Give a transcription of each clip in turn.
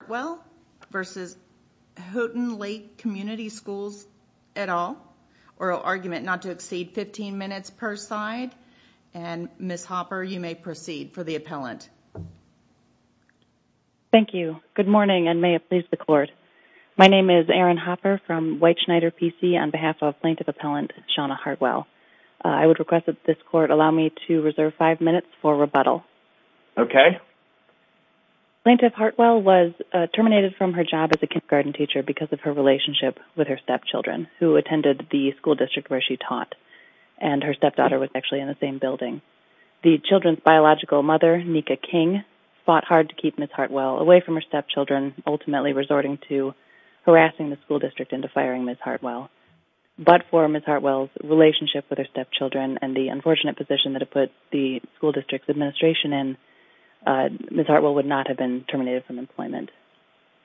Hartwell versus Houghton Lake Community Schools et al. Oral argument not to exceed 15 minutes per side and Ms. Hopper you may proceed for the appellant. Thank you. Good morning and may it please the court. My name is Erin Hopper from White Schneider PC on behalf of plaintiff appellant Shawna Hartwell. I would request that this court allow me to reserve five minutes for rebuttal. Okay. Plaintiff Hartwell was terminated from her job as a kindergarten teacher because of her relationship with her stepchildren who attended the school district where she taught and her stepdaughter was actually in the same building. The children's biological mother Nika King fought hard to keep Ms. Hartwell away from her stepchildren ultimately resorting to harassing the school district into firing Ms. Hartwell. But for Ms. Hartwell's relationship with her stepchildren and the unfortunate position that it put the school district's administration in Ms. Hartwell would not have been terminated from employment.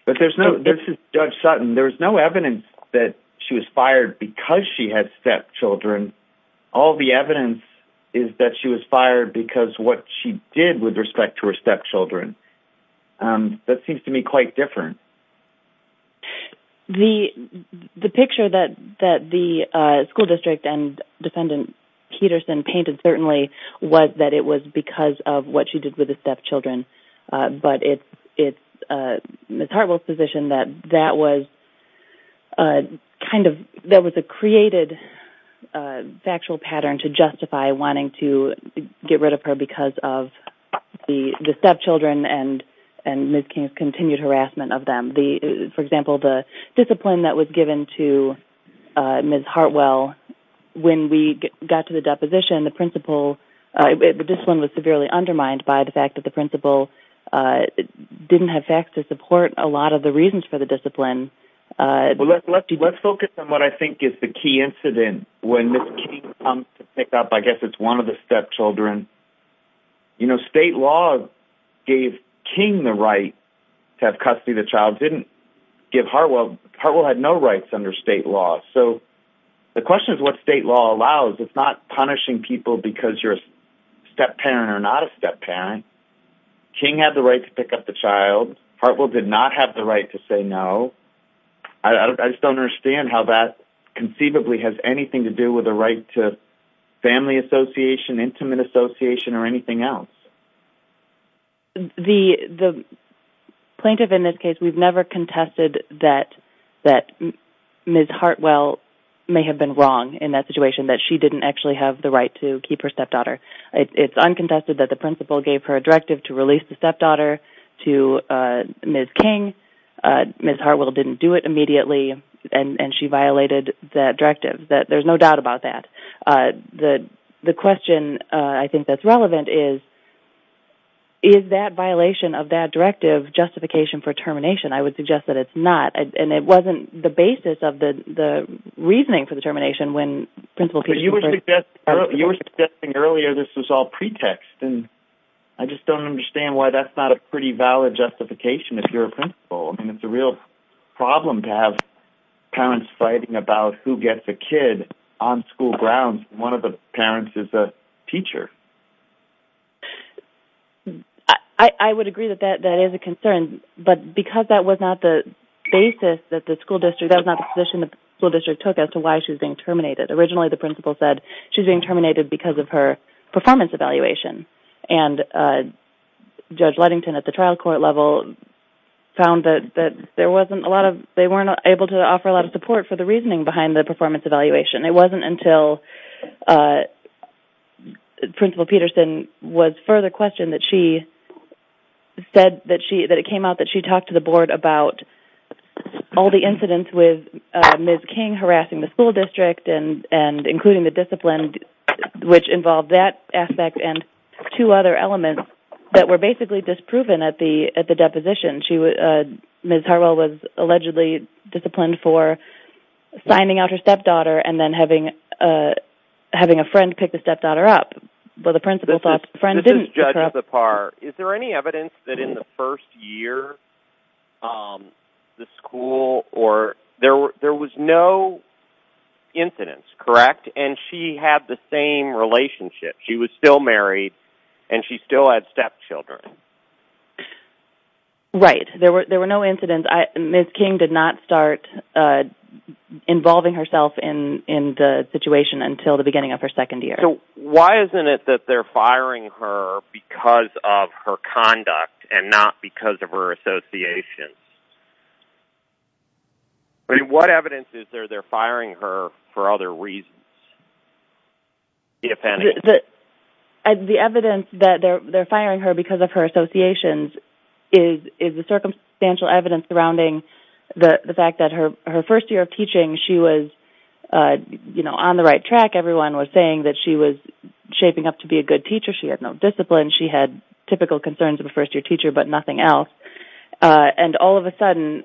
But there's no this is Judge Sutton there's no evidence that she was fired because she had stepchildren. All the evidence is that she was fired because what she did with respect to her stepchildren. That seems to me quite different. The picture that the school district and defendant Peterson painted certainly was that it was because of what she did with the stepchildren. But it's Ms. Hartwell's position that that was kind of that was a created factual pattern to justify wanting to get rid of her because of the stepchildren and Ms. King's continued harassment of them. For example the discipline that was given to Ms. Hartwell when we got to the deposition the principle the discipline was severely undermined by the fact that the principle didn't have facts to support a lot of the reasons for the discipline. Well let's focus on what I think is the key incident when Ms. King comes to pick up I guess one of the stepchildren. You know state law gave King the right to have custody of the child didn't give Hartwell. Hartwell had no rights under state law. So the question is what state law allows. It's not punishing people because you're a step parent or not a step parent. King had the right to pick up the child. Hartwell did not have the right to say no. I just don't understand how that conceivably has anything to do with the right to family association intimate association or anything else. The plaintiff in this case we've never contested that that Ms. Hartwell may have been wrong in that situation that she didn't actually have the right to keep her stepdaughter. It's uncontested that the principal gave her a directive to release the stepdaughter to Ms. King. Ms. Hartwell didn't do it immediately and she violated that directive. There's no doubt about that. The question I think that's relevant is is that violation of that directive justification for termination? I would suggest that it's not and it wasn't the basis of the reasoning for the termination when principal... You were suggesting earlier this was all pretext and I just don't understand why that's not a pretty valid justification if you're a principal and it's a real problem to have parents fighting about who gets a kid on school grounds one of the parents is a teacher. I would agree that that that is a concern but because that was not the basis that the school district that was not the position the school district took as to why she was being terminated. Originally the principal said she's being terminated because of her performance evaluation and Judge Ludington at the trial court level found that that there wasn't a lot of they weren't able to offer a lot of support for the reasoning behind the performance evaluation. It wasn't until Principal Peterson was further questioned that she said that she that it came out that she talked to the board about all the incidents with Ms. King harassing the school district and and including the discipline which involved that aspect and two other elements that were basically disproven at the at the deposition. Ms. Harwell was allegedly disciplined for signing out her stepdaughter and then having a having a friend pick the stepdaughter up but the principal thought friend didn't judge the par. Is there any evidence that in the first year um the school or there were there was no incidents correct and she had the same relationship she was still married and she still had stepchildren? Right there were there were no incidents. Ms. King did not start uh involving herself in in the situation until the beginning of her second year. So why isn't it that they're firing her because of her conduct and not because of her associations? I mean what evidence is there they're firing her for other reasons? And the evidence that they're they're firing her because of her associations is is the circumstantial evidence surrounding the the fact that her her first year of teaching she was uh you know on the right track everyone was saying that she was shaping up to be a good teacher she had no discipline she had typical concerns of a first-year teacher but nothing else uh and all of a sudden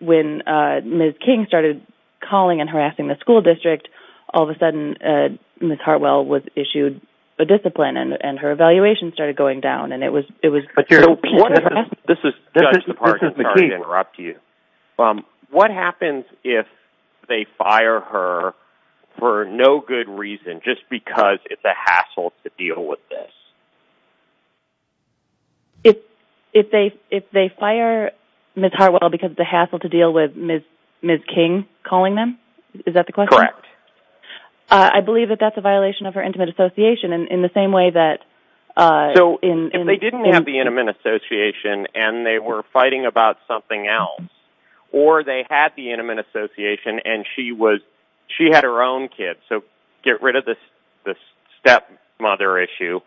when uh Ms. King started calling and harassing the school district all of a sudden uh Ms. Harwell was issued a discipline and and her evaluation started going down and it was it was this is this is the part of the key interrupt you um what happens if they fire her for no good reason just because it's a hassle to deal with this? If if they if they fire Ms. Harwell because the hassle to deal with Ms. King calling them? Is that the question? Correct. I believe that that's a violation of her intimate association and in the same way that uh so in if they didn't have the intimate association and they were fighting about something else or they had the intimate association and she was she had her own kids so get rid of this this stepmother issue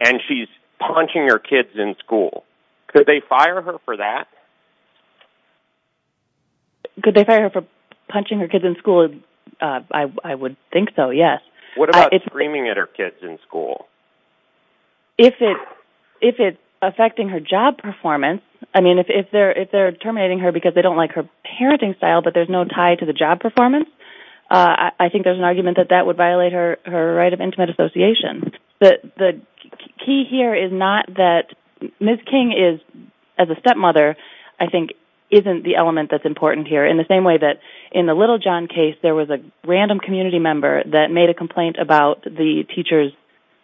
and she's punching her kids in school could they fire her for that? Could they fire her for punching her kids in school? I would think so yes. What about screaming at her kids in school? If it if it's affecting her job performance I mean if they're if they're terminating her because they don't like her parenting style but there's no tie to the job performance uh I think there's an argument that that would violate her her right of intimate association but the key here is not that Ms. King is as a stepmother I think isn't the element that's important here in the same way that in the Little John case there was a random community member that made a complaint about the teacher's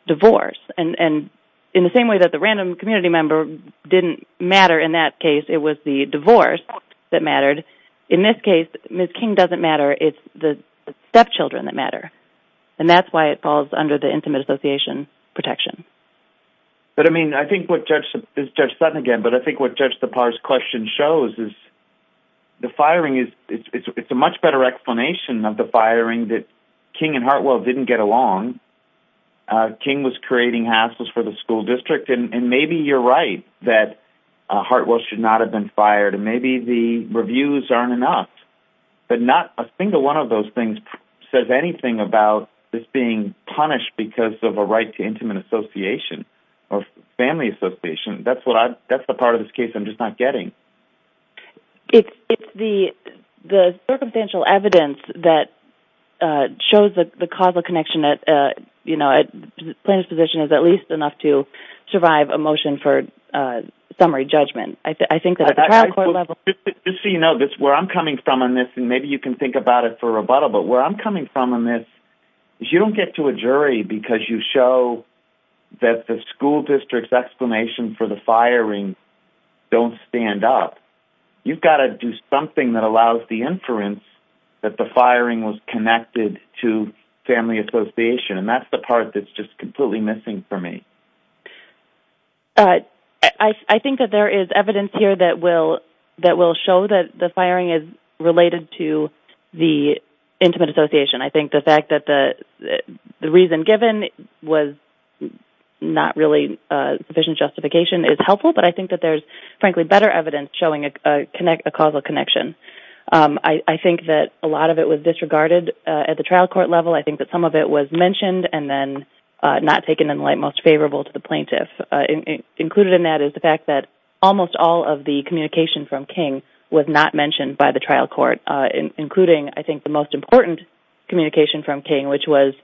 divorce and and in the same way that the random community member didn't matter in that case it was the divorce that mattered in this case Ms. King doesn't matter it's the stepchildren that matter and that's why it falls under the intimate association protection. But I mean I think what Judge Sutton again but I think what Judge Depar's question shows is the firing is it's a much better explanation of the firing that King and Hartwell didn't get along uh King was creating hassles for the school district and maybe you're right that uh Hartwell should not have been fired and maybe the reviews aren't enough but not a single one of those things says anything about this being punished because of a right to intimate association or family association that's what I that's the part of this case I'm just not getting. It's it's the the circumstantial evidence that uh shows the the causal connection that uh you know at plaintiff's position is at least enough to survive a motion for uh summary judgment. I think that at the trial court level. Just so you know this where I'm coming from on this and maybe you can think about it for rebuttal but where I'm coming from on this is you don't get to a jury because you show that the school district's explanation for the firing don't stand up. You've got to do something that allows the inference that the firing was connected to family association and that's the part that's just completely missing for me. Uh I think that there is evidence here that will that will show that the firing is related to the intimate association. I think the fact that the the reason given was not really uh sufficient justification is helpful but I think that there's frankly better evidence showing a connect a causal connection. Um I I think that a lot of it was disregarded uh at the trial court level. I think that some of it was mentioned and then uh not taken in the light most favorable to the plaintiff. Uh included in that is the fact that almost all of the communication from King was not mentioned by the trial court uh including I think the most important communication from King which was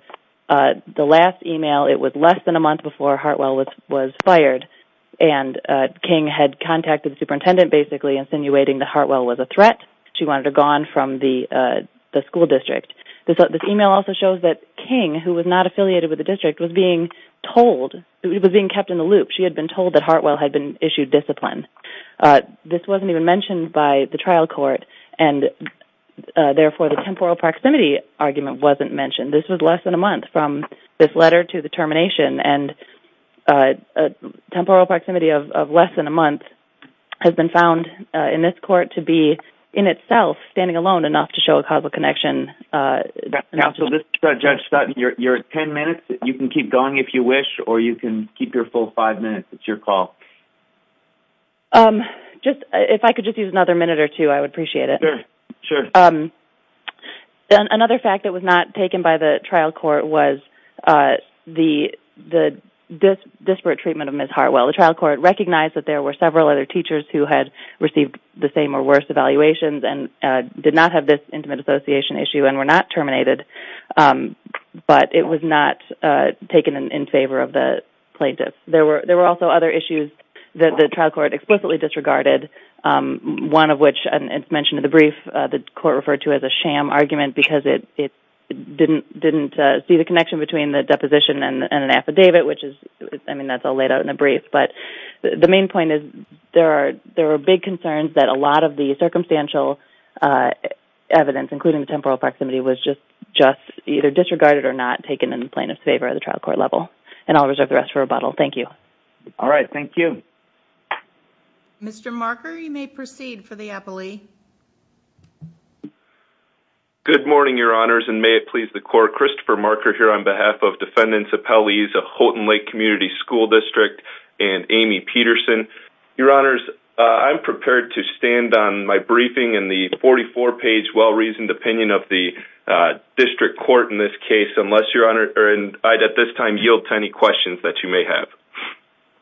uh the last email it was less than a month before Hartwell was was fired and uh King had contacted the superintendent basically insinuating that Hartwell was a threat. She wanted her gone from the uh the school district. This this email also shows that King who was not affiliated with the district was being told it was being kept in the loop. She had been told that Hartwell had been issued discipline. Uh this wasn't even mentioned by the trial court and uh therefore the temporal proximity argument wasn't mentioned. This was less than a month from this letter to the termination and uh a temporal proximity of of less than a month has been found uh in this court to be in itself standing alone enough to show a causal connection. Uh now so this Judge Sutton you're 10 minutes you can keep going if you wish or you can keep your full five minutes it's your call. Um just if I could just use another minute or two I would appreciate it. Sure. Um another fact that was not taken by the trial court was uh the the this disparate treatment of Ms. Hartwell. The trial court recognized that there were several other teachers who had received the same or worse evaluations and uh did not have this intimate association issue and were not terminated. Um but it was not uh taken in favor of the plaintiff. There were there were also other issues that the trial court explicitly disregarded um one of which and it's mentioned in the brief uh the court referred to as a sham argument because it it didn't didn't uh see the connection between the deposition and an affidavit which is I mean that's all laid out in the brief but the main point is there are there are big concerns that a lot of the circumstantial uh evidence including the temporal proximity was just just either disregarded or not taken in plaintiff's favor at the trial court level and I'll reserve the rest for rebuttal. Thank you. All right thank you. Mr. Marker you may proceed for the appellee. Good morning your honors and may it please the court Christopher Marker here on behalf of and Amy Peterson. Your honors uh I'm prepared to stand on my briefing in the 44 page well-reasoned opinion of the uh district court in this case unless your honor or and I'd at this time yield to any questions that you may have.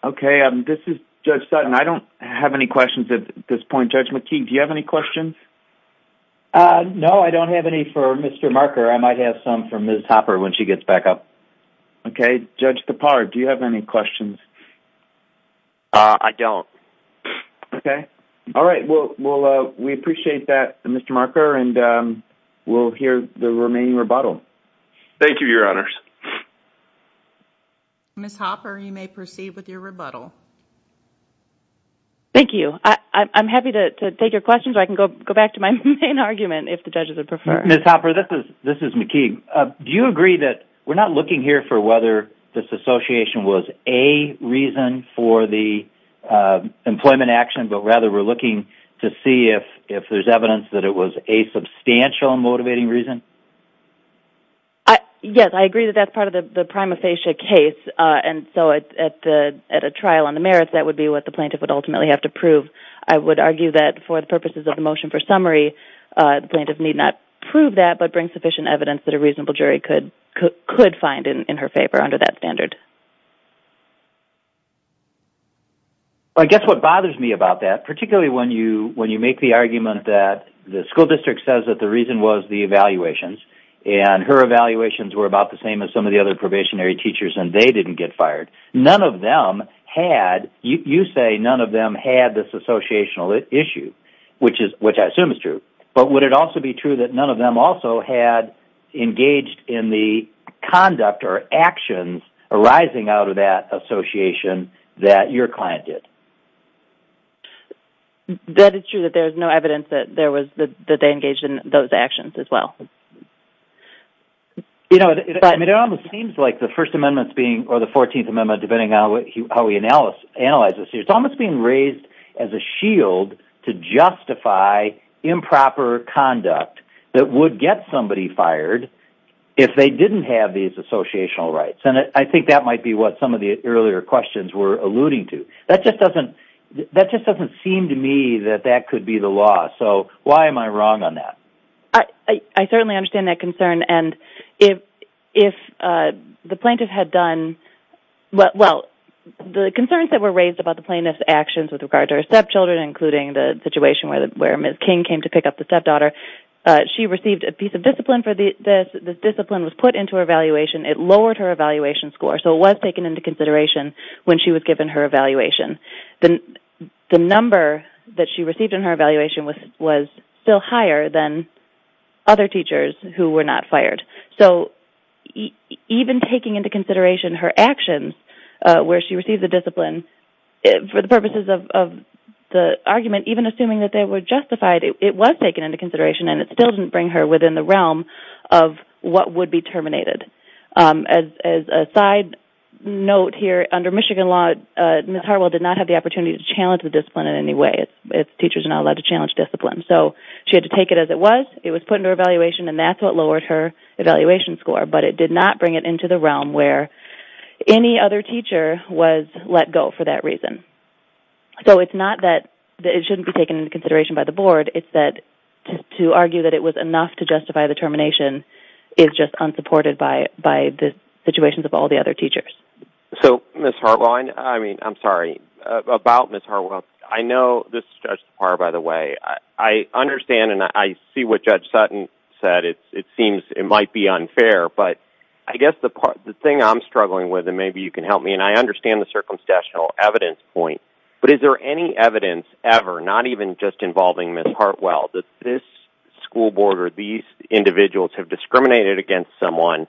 Okay um this is Judge Sutton. I don't have any questions at this point. Judge McKee do you have any questions? Uh no I don't have any for Mr. Marker. I might have some for Ms. Hopper when she gets back up. Okay Judge Kapar do you have any questions? Uh I don't. Okay all right well well uh we appreciate that Mr. Marker and um we'll hear the remaining rebuttal. Thank you your honors. Ms. Hopper you may proceed with your rebuttal. Thank you. I I'm happy to take your questions. I can go go back to my main argument if the judges would prefer. Ms. Hopper this is this is McKee. Uh do you agree that we're not looking here for this association was a reason for the uh employment action but rather we're looking to see if if there's evidence that it was a substantial motivating reason? Yes I agree that that's part of the the prima facie case uh and so at the at a trial on the merits that would be what the plaintiff would ultimately have to prove. I would argue that for the purposes of the motion for summary uh the plaintiff need not prove that but bring evidence that a reasonable jury could could find in in her favor under that standard. Well I guess what bothers me about that particularly when you when you make the argument that the school district says that the reason was the evaluations and her evaluations were about the same as some of the other probationary teachers and they didn't get fired. None of them had you you say none of them had this associational issue which is which I assume is but would it also be true that none of them also had engaged in the conduct or actions arising out of that association that your client did? That is true that there's no evidence that there was that they engaged in those actions as well. You know it almost seems like the first amendment being or the 14th amendment depending on what how we analyze analyze this it's almost being raised as a shield to justify improper conduct that would get somebody fired if they didn't have these associational rights and I think that might be what some of the earlier questions were alluding to. That just doesn't that just doesn't seem to me that that could be the law so why am I wrong on that? I certainly understand that the concerns that were raised about the plaintiff's actions with regard to her stepchildren including the situation where where Ms. King came to pick up the stepdaughter she received a piece of discipline for this. This discipline was put into her evaluation it lowered her evaluation score so it was taken into consideration when she was given her evaluation. The number that she received in her evaluation was was still higher than other teachers who were not fired so even taking into consideration her actions where she received the discipline for the purposes of the argument even assuming that they were justified it was taken into consideration and it still didn't bring her within the realm of what would be terminated. As a side note here under Michigan law Ms. Harwell did not have the opportunity to challenge the discipline in any way it's teachers are not allowed to challenge discipline so she had to take it as it was it was put into evaluation and that's what lowered her evaluation score but it did not bring it into the realm where any other teacher was let go for that reason so it's not that it shouldn't be taken into consideration by the board it's that to argue that it was enough to justify the termination is just unsupported by by the situations of all the other teachers. So Ms. Harwell I mean I'm sorry about Ms. Harwell I know this is just the part by the way I understand and I see what Judge Sutton said it seems it might be unfair but I guess the part the thing I'm struggling with and maybe you can help me and I understand the circumstantial evidence point but is there any evidence ever not even just involving Ms. Harwell that this school board or these individuals have discriminated against someone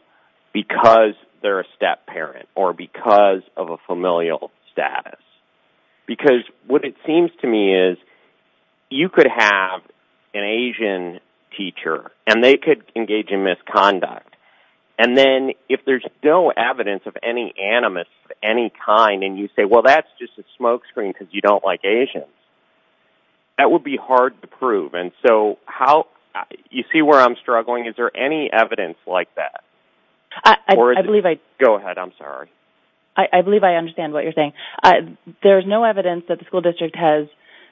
because they're a step-parent or because of a familial status because what it seems to me is you could have an Asian teacher and they could engage in misconduct and then if there's no evidence of any animus of any kind and you say well that's just a smokescreen because you don't like Asians that would be hard to prove and so how you see where I'm struggling is there any evidence like that I believe I go ahead I'm sorry I believe I understand what you're saying I there's no evidence that the school district has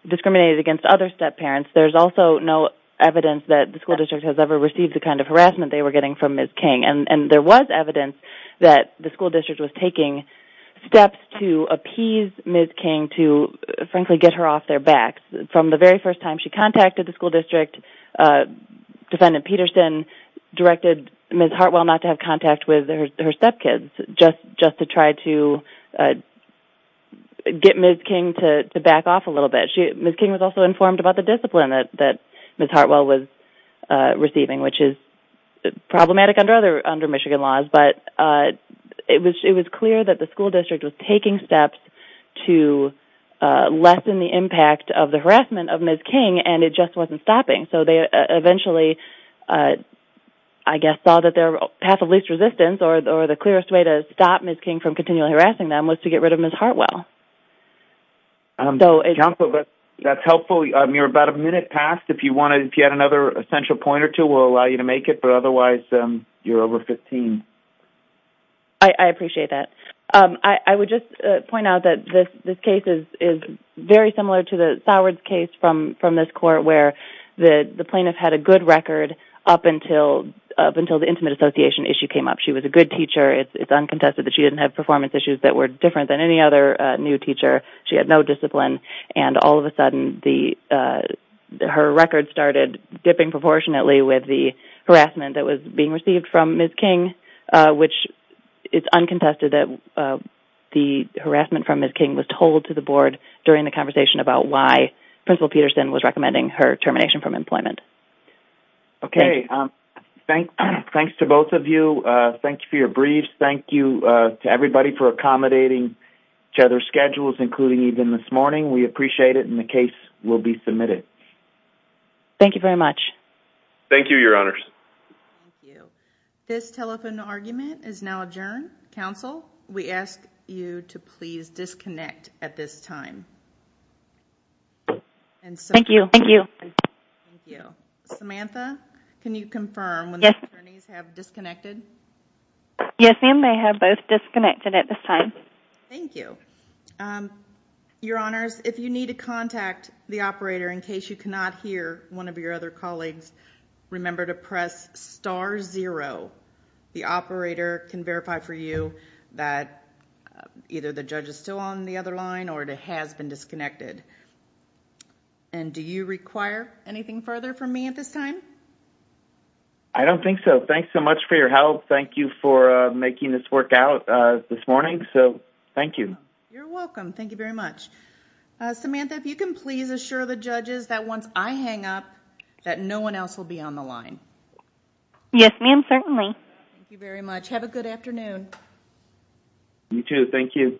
discriminated against other step-parents there's also no evidence that the school district has ever received the kind of harassment they were getting from Ms. King and and there was evidence that the school district was taking steps to appease Ms. King to frankly get her off their backs from the very first time she contacted the school district uh defendant Peterson directed Ms. Hartwell not to have contact with her step-kids just just to try to get Ms. King to back off a little bit she Ms. King was also informed about the discipline that that Ms. Hartwell was receiving which is problematic under other under Michigan laws but it was it was clear that the school district was taking steps to uh lessen the impact of the harassment of Ms. King and it just wasn't stopping so they eventually uh I guess saw that their path of least resistance or or the clearest way to stop Ms. King from continually harassing them was to get rid of Ms. Hartwell um so a couple of us that's helpful um you're about a minute past if you wanted if you had another essential point or two we'll allow you to make it but otherwise um you're over 15. I appreciate that um I would just uh point out that this this case is is very similar to the Soward's case from from this court where the the plaintiff had a good record up until up until the intimate association issue came up she was a good teacher it's uncontested that she didn't have performance issues that were different than any other uh new teacher she had no discipline and all of a sudden the uh her record started dipping proportionately with the harassment that was being from Ms. King uh which it's uncontested that uh the harassment from Ms. King was told to the board during the conversation about why Principal Peterson was recommending her termination from employment. Okay um thanks thanks to both of you uh thank you for your briefs thank you uh to everybody for accommodating each other's schedules including even this morning we appreciate it and the case will be submitted. Thank you very much. Thank you your honors. This telephone argument is now adjourned. Counsel we ask you to please disconnect at this time. Thank you. Thank you. Thank you. Samantha can you confirm when the attorneys have disconnected? Yes ma'am they have both disconnected at this time. Thank you um your honors if you need to contact the operator in case you cannot hear one of your other colleagues remember to press star zero the operator can verify for you that either the judge is still on the other line or it has been disconnected and do you require anything further from me at this time? I don't think so thanks so much for your help thank you for uh making this work out uh this morning so thank you. You're welcome thank you very much uh Samantha if you can please assure the judges that once I hang up that no one else will be on the line. Yes ma'am certainly. Thank you very much have a good afternoon. You too thank you.